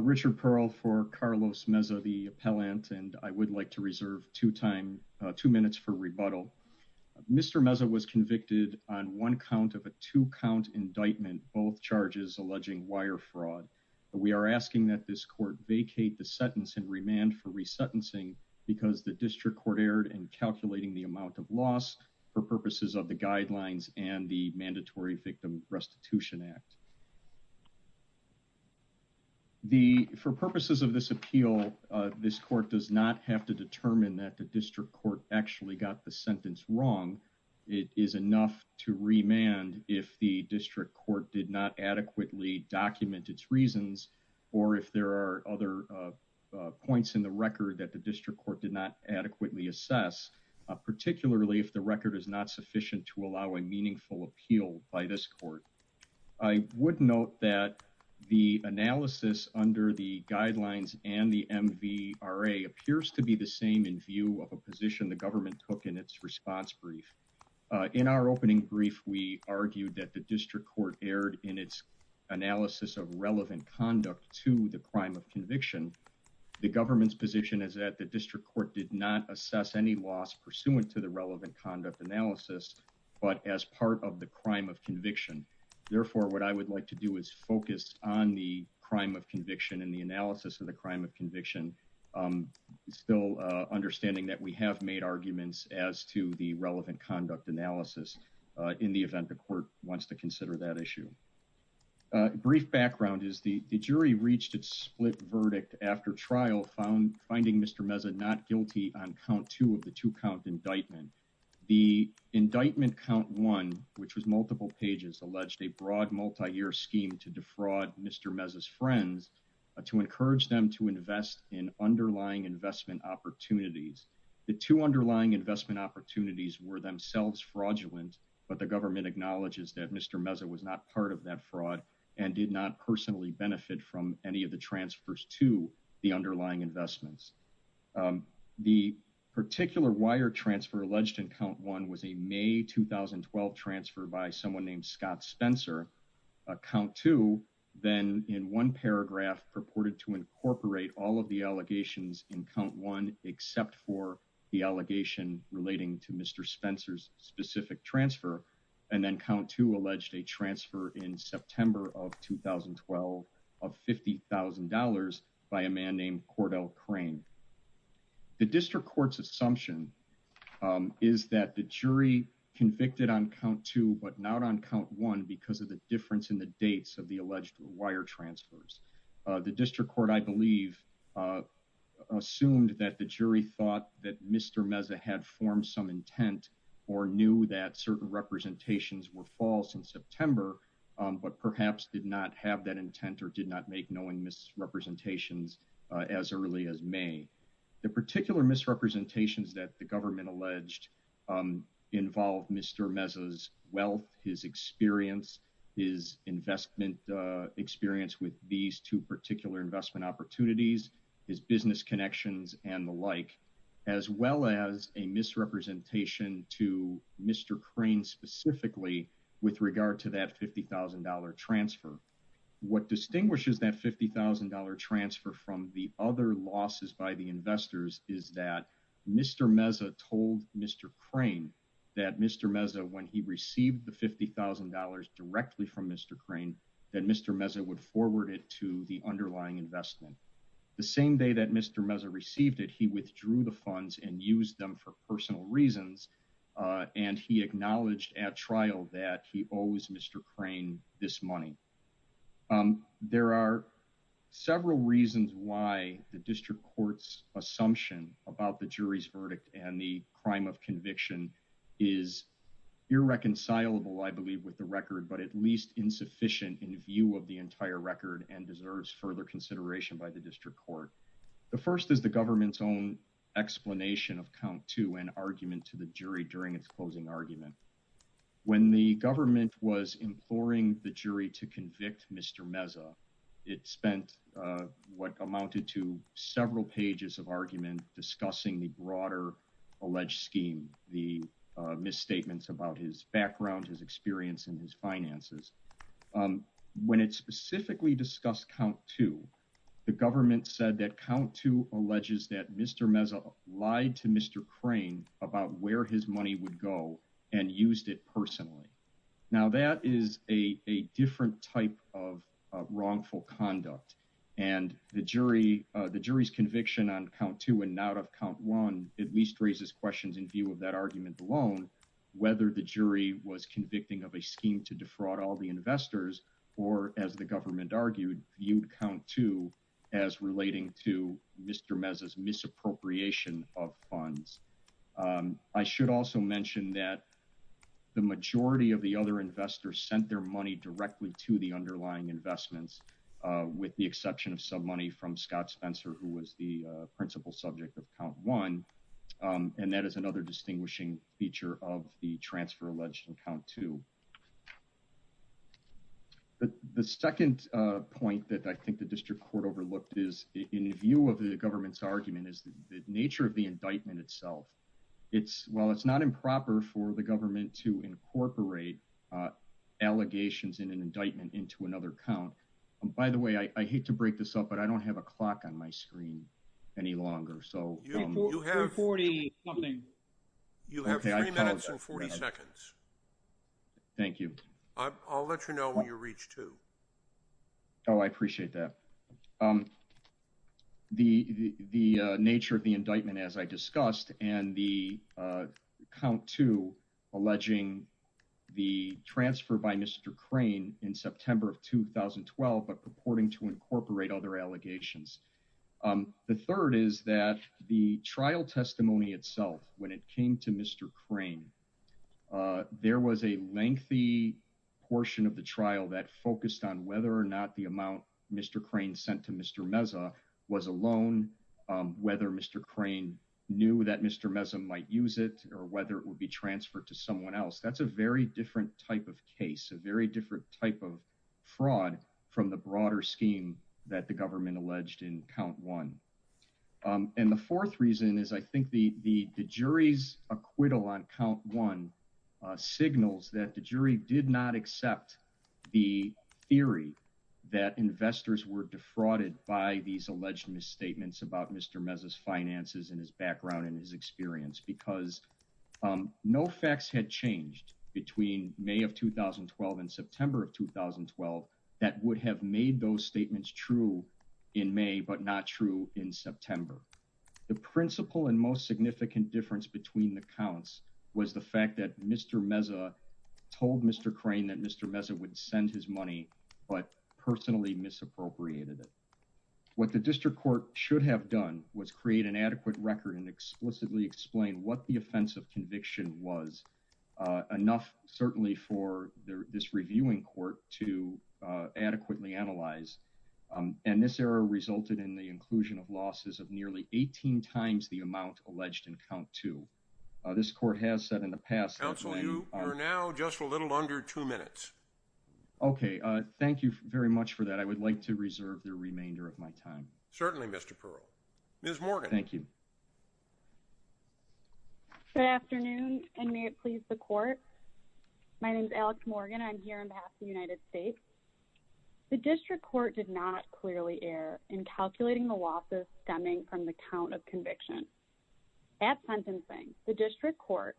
Richard Pearl for Carlos Meza, the appellant, and I would like to reserve two minutes for rebuttal. Mr. Meza was convicted on one count of a two-count indictment, both charges alleging wire fraud. We are asking that this court vacate the sentence and remand for re-sentencing because the district court erred in calculating the amount of loss for purposes of the guidelines and the Mandatory Victim Restitution Act. For purposes of this appeal, this court does not have to determine that the district court actually got the sentence wrong. It is enough to remand if the district court did not adequately document its reasons or if there are other points in the record that the district court did not adequately assess, particularly if the record is not sufficient to allow a meaningful appeal by this court. I would note that the analysis under the guidelines and the MVRA appears to be the same in view of a position the government took in its response brief. In our opening brief, we argued that the district court erred in its analysis of relevant conduct to the crime of conviction. The government's position is that the district court did not assess any loss pursuant to the relevant conduct analysis, but as part of the crime of conviction. Therefore, what I would like to do is focus on the crime of conviction and the analysis of the crime of conviction, still understanding that we have made arguments as to the relevant conduct analysis in the event the court wants to consider that issue. A brief background is the jury reached its split verdict after trial finding Mr. Meza not guilty on count two of the two-count indictment. The indictment count one, which was multiple pages, alleged a broad multi-year scheme to defraud Mr. Meza's investment opportunities. The two underlying investment opportunities were themselves fraudulent, but the government acknowledges that Mr. Meza was not part of that fraud and did not personally benefit from any of the transfers to the underlying investments. The particular wire transfer alleged in count one was a May 2012 transfer by someone named Scott Spencer. Count two then in one paragraph purported to incorporate all of the allegations in count one except for the allegation relating to Mr. Spencer's specific transfer, and then count two alleged a transfer in September of 2012 of $50,000 by a man named Cordell Crane. The district court's assumption is that the jury convicted on count two, but not on count one because of the difference in the dates of the alleged wire transfers. The district court, I believe, assumed that the jury thought that Mr. Meza had formed some intent or knew that certain representations were false in September, but perhaps did not have that intent or did not make knowing misrepresentations as early as May. The particular misrepresentations that the government alleged involved Mr. Meza's wealth, his experience, his investment experience with these two particular investment opportunities, his business connections and the like, as well as a misrepresentation to Mr. Crane specifically with regard to that $50,000 transfer. What Mr. Meza told Mr. Crane that Mr. Meza, when he received the $50,000 directly from Mr. Crane, that Mr. Meza would forward it to the underlying investment. The same day that Mr. Meza received it, he withdrew the funds and used them for personal reasons. Uh, and he acknowledged at trial that he always Mr. Crane this money. Um, there are several reasons why the district court's assumption about the jury's verdict and the crime of conviction is irreconcilable, I believe, with the record, but at least insufficient in view of the entire record and deserves further consideration by the district court. The first is the government's own explanation of count to an argument to the jury during its closing argument. When the government was imploring the jury to convict Mr. Meza, it spent what amounted to several pages of argument discussing the broader alleged scheme, the misstatements about his background, his experience in his finances. Um, when it specifically discussed count to the government said that count to alleges that Mr. Meza lied to Mr. Crane about where his money would go and used it personally. Now that is a different type of wrongful conduct. And the jury, the jury's conviction on count to and not of count one at least raises questions in view of that argument alone, whether the jury was convicting of a scheme to defraud all the investors or, as the government argued, viewed count to as relating to Mr Meza's misappropriation of funds. Um, I should also mention that the majority of the other investors sent their money directly to the underlying investments, uh, with the exception of some money from Scott Spencer, who was the principal subject of count one. Um, and that is another distinguishing feature of the transfer alleged in count to the second point that I think the district court overlooked is in view of the government's argument is the nature of the indictment itself. It's well, it's not improper for the government to incorporate, uh, allegations in an indictment into another count. And by the way, I hate to break this up, but I don't have a clock on my screen any longer. So you have 40, you have 40 seconds. Thank you. I'll let you know when you reach to. Oh, I appreciate that. Um, the, the, the nature of the indictment, as I discussed, and the, uh, count to alleging the transfer by Mr Crane in September of 2012, but purporting to incorporate other allegations. Um, the third is that the trial testimony itself when it came to Mr Crane, uh, there was a lengthy portion of the trial that focused on whether or not the amount Mr Crane sent to Mr Meza was alone. Um, whether Mr Crane knew that Mr Meza might use it or whether it would be transferred to someone else. That's a very different type of case, a very different type of fraud from the broader scheme that the government alleged in count one. Um, and the fourth reason is I think the, the, the jury's acquittal on count one, uh, signals that the jury did not accept the theory that investors were defrauded by these alleged misstatements about Mr Meza's finances and his background and his experience because, um, no facts had changed between May of 2012 and September of 2012 that would have made those statements true in May, but not true in September. The principal and most significant difference between the counts was the fact that Mr Meza told Mr Crane that Mr Meza would send his money, but personally misappropriated it. What the district court should have done was create an adequate record and explicitly explain what the offensive conviction was, uh, enough certainly for this reviewing court to adequately analyze. Um, and this error resulted in the inclusion of losses of nearly 18 times the amount alleged in count two. Uh, this court has said in the past, you are now just a little under two minutes. Okay. Uh, thank you very much for that. I would Good afternoon and may it please the court. My name is Alex Morgan. I'm here on behalf of the United States. The district court did not clearly err in calculating the losses stemming from the count of conviction. At sentencing, the district court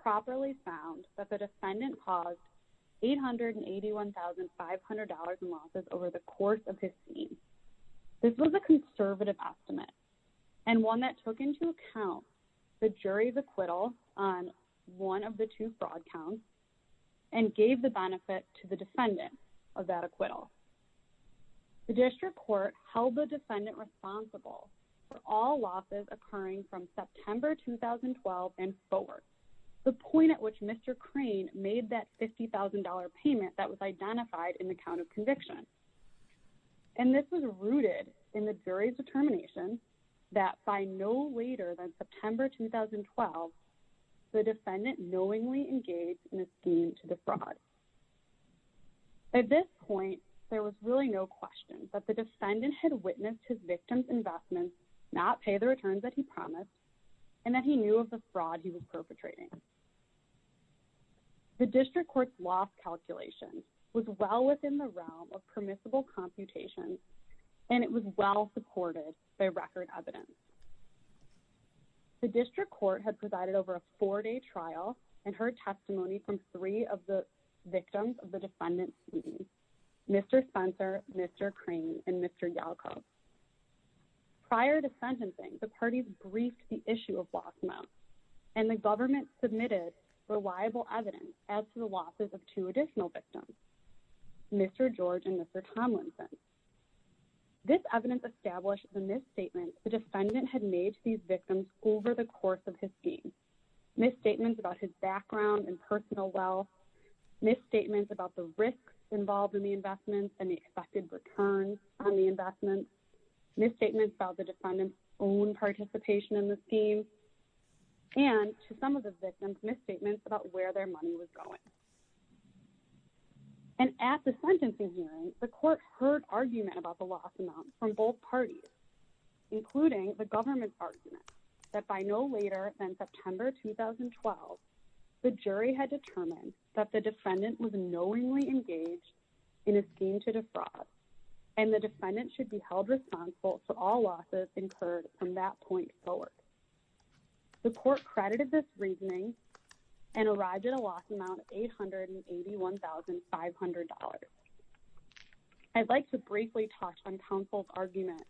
properly found that the defendant caused $881,500 in losses over the course of his scene. This was a conservative estimate and one that took into account the jury's acquittal on one of the two fraud counts and gave the benefit to the defendant of that acquittal. The district court held the defendant responsible for all losses occurring from September 2012 and forward, the point at which Mr Crane made that $50,000 payment that was identified in the count of conviction. And this was rooted in the jury's determination that by no later than September 2012, the defendant knowingly engaged in a scheme to defraud. At this point, there was really no question that the defendant had witnessed his victim's investments not pay the returns that he promised and that he knew of the fraud he was perpetrating. The district court's calculation was well within the realm of permissible computation and it was well supported by record evidence. The district court had provided over a four-day trial and heard testimony from three of the victims of the defendant's scene, Mr Spencer, Mr Crane, and Mr Yalko. Prior to sentencing, the parties briefed the issue of lost money and the government submitted reliable evidence as to the losses of two additional victims, Mr George and Mr Tomlinson. This evidence established the misstatements the defendant had made to these victims over the course of his scheme, misstatements about his background and personal wealth, misstatements about the risks involved in the investments and the expected return on the investments, misstatements about the defendant's own participation in the scheme, and to some of the victims' misstatements about where their money was going. And at the sentencing hearing, the court heard argument about the loss amount from both parties, including the government's argument that by no later than September 2012, the jury had determined that the defendant was knowingly engaged in a scheme to defraud and the defendant should be held responsible for all losses incurred from that point forward. The court credited this reasoning and arrived at a loss amount of $881,500. I'd like to briefly touch on counsel's argument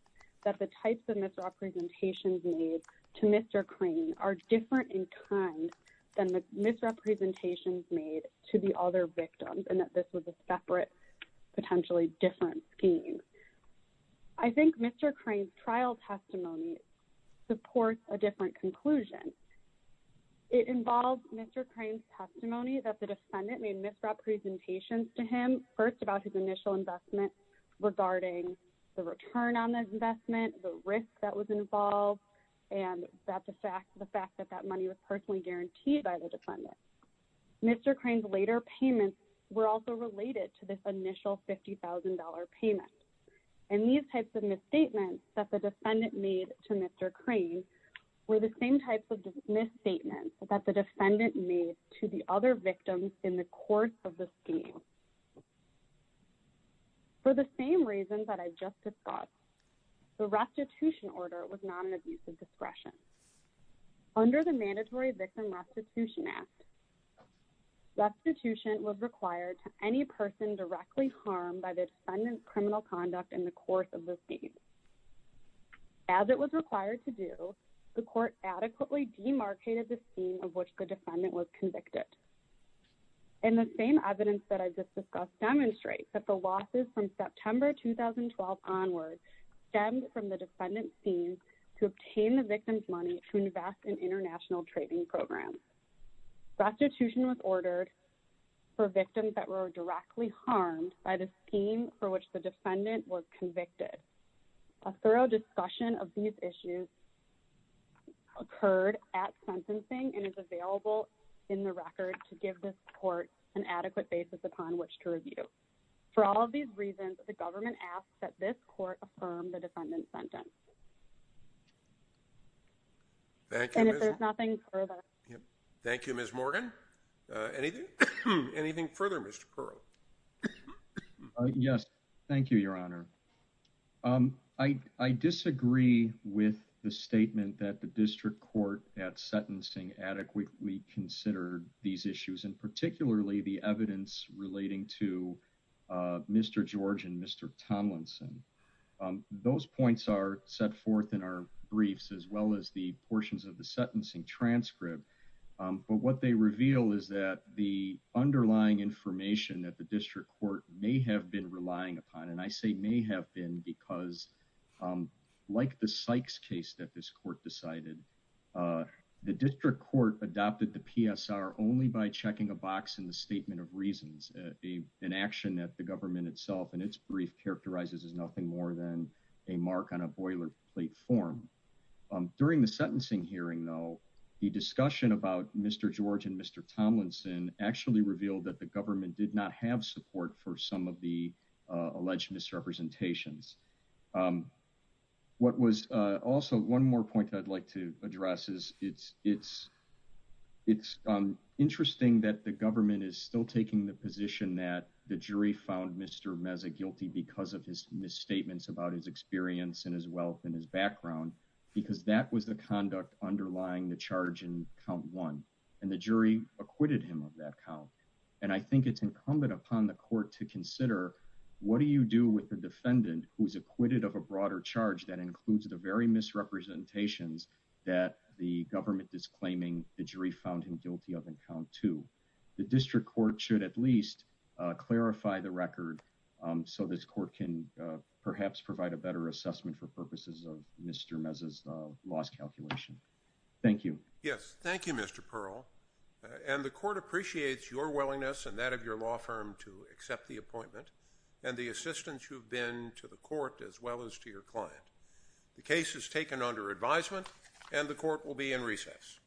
that the types of misrepresentations made to Mr Crane are different in kind than the misrepresentations made to the other victims and that this was a separate, potentially different scheme. I think Mr Crane's trial testimony supports a different conclusion. It involves Mr Crane's testimony that the defendant made misrepresentations to him, first about his initial investment regarding the return on the investment, the risk that was involved, and the fact that that money was personally guaranteed by the defendant. Mr Crane's later payments were also related to this initial $50,000 payment. And these types of misstatements that the defendant made to Mr Crane were the same types of misstatements that the defendant made to the other victims in the course of the scheme. For the same reasons that I just discussed, the restitution order was not an abuse of discretion. Under the Mandatory Victim Restitution Act, restitution was required to any person directly harmed by the defendant's criminal conduct in the course of the scheme. As it was required to do, the court adequately demarcated the scheme of which the defendant was convicted. And the same evidence that I just discussed demonstrates that the losses from September 2012 onward stemmed from the defendant's scheme to obtain the victim's money to invest in international trading programs. Restitution was ordered for victims that were directly harmed by the scheme for which the defendant was convicted. A thorough discussion of these issues occurred at sentencing and is available in the record to give this court an adequate basis upon which to review. For all of these reasons, the government asks that this court affirm the defendant's sentence. And if there's nothing further... Yes, thank you, Your Honor. I disagree with the statement that the district court at sentencing adequately considered these issues and particularly the evidence relating to Mr. George and Mr. Tomlinson. Those points are set forth in our briefs as well as the portions of the sentencing transcript. But what they reveal is that the underlying information that the district court may have been relying upon, and I say may have been because, like the Sykes case that this court decided, the district court adopted the PSR only by checking a box in the statement of reasons, an action that the government itself in its brief characterizes as nothing more than a mark on a boilerplate form. During the sentencing hearing, though, the discussion about Mr. George and Mr. Tomlinson actually revealed that the government did not have support for some of the alleged misrepresentations. Also, one more point I'd like to address is it's interesting that the government is still taking the position that the jury found Mr. George guilty of misrepresentations. I think it's incumbent upon the court to consider what do you do with the defendant who's acquitted of a broader charge that includes the very misrepresentations that the government is claiming the jury found him guilty of in count two. The district court should at least clarify the record so this court can perhaps provide a better assessment for purposes of Mr. Meza's loss calculation. Thank you. Yes. Thank you, Mr. Pearl. And the court appreciates your willingness and that of your law firm to accept the appointment and the assistance you've been to the court as well as to your client. The case is taken under advisement and the court will be in recess.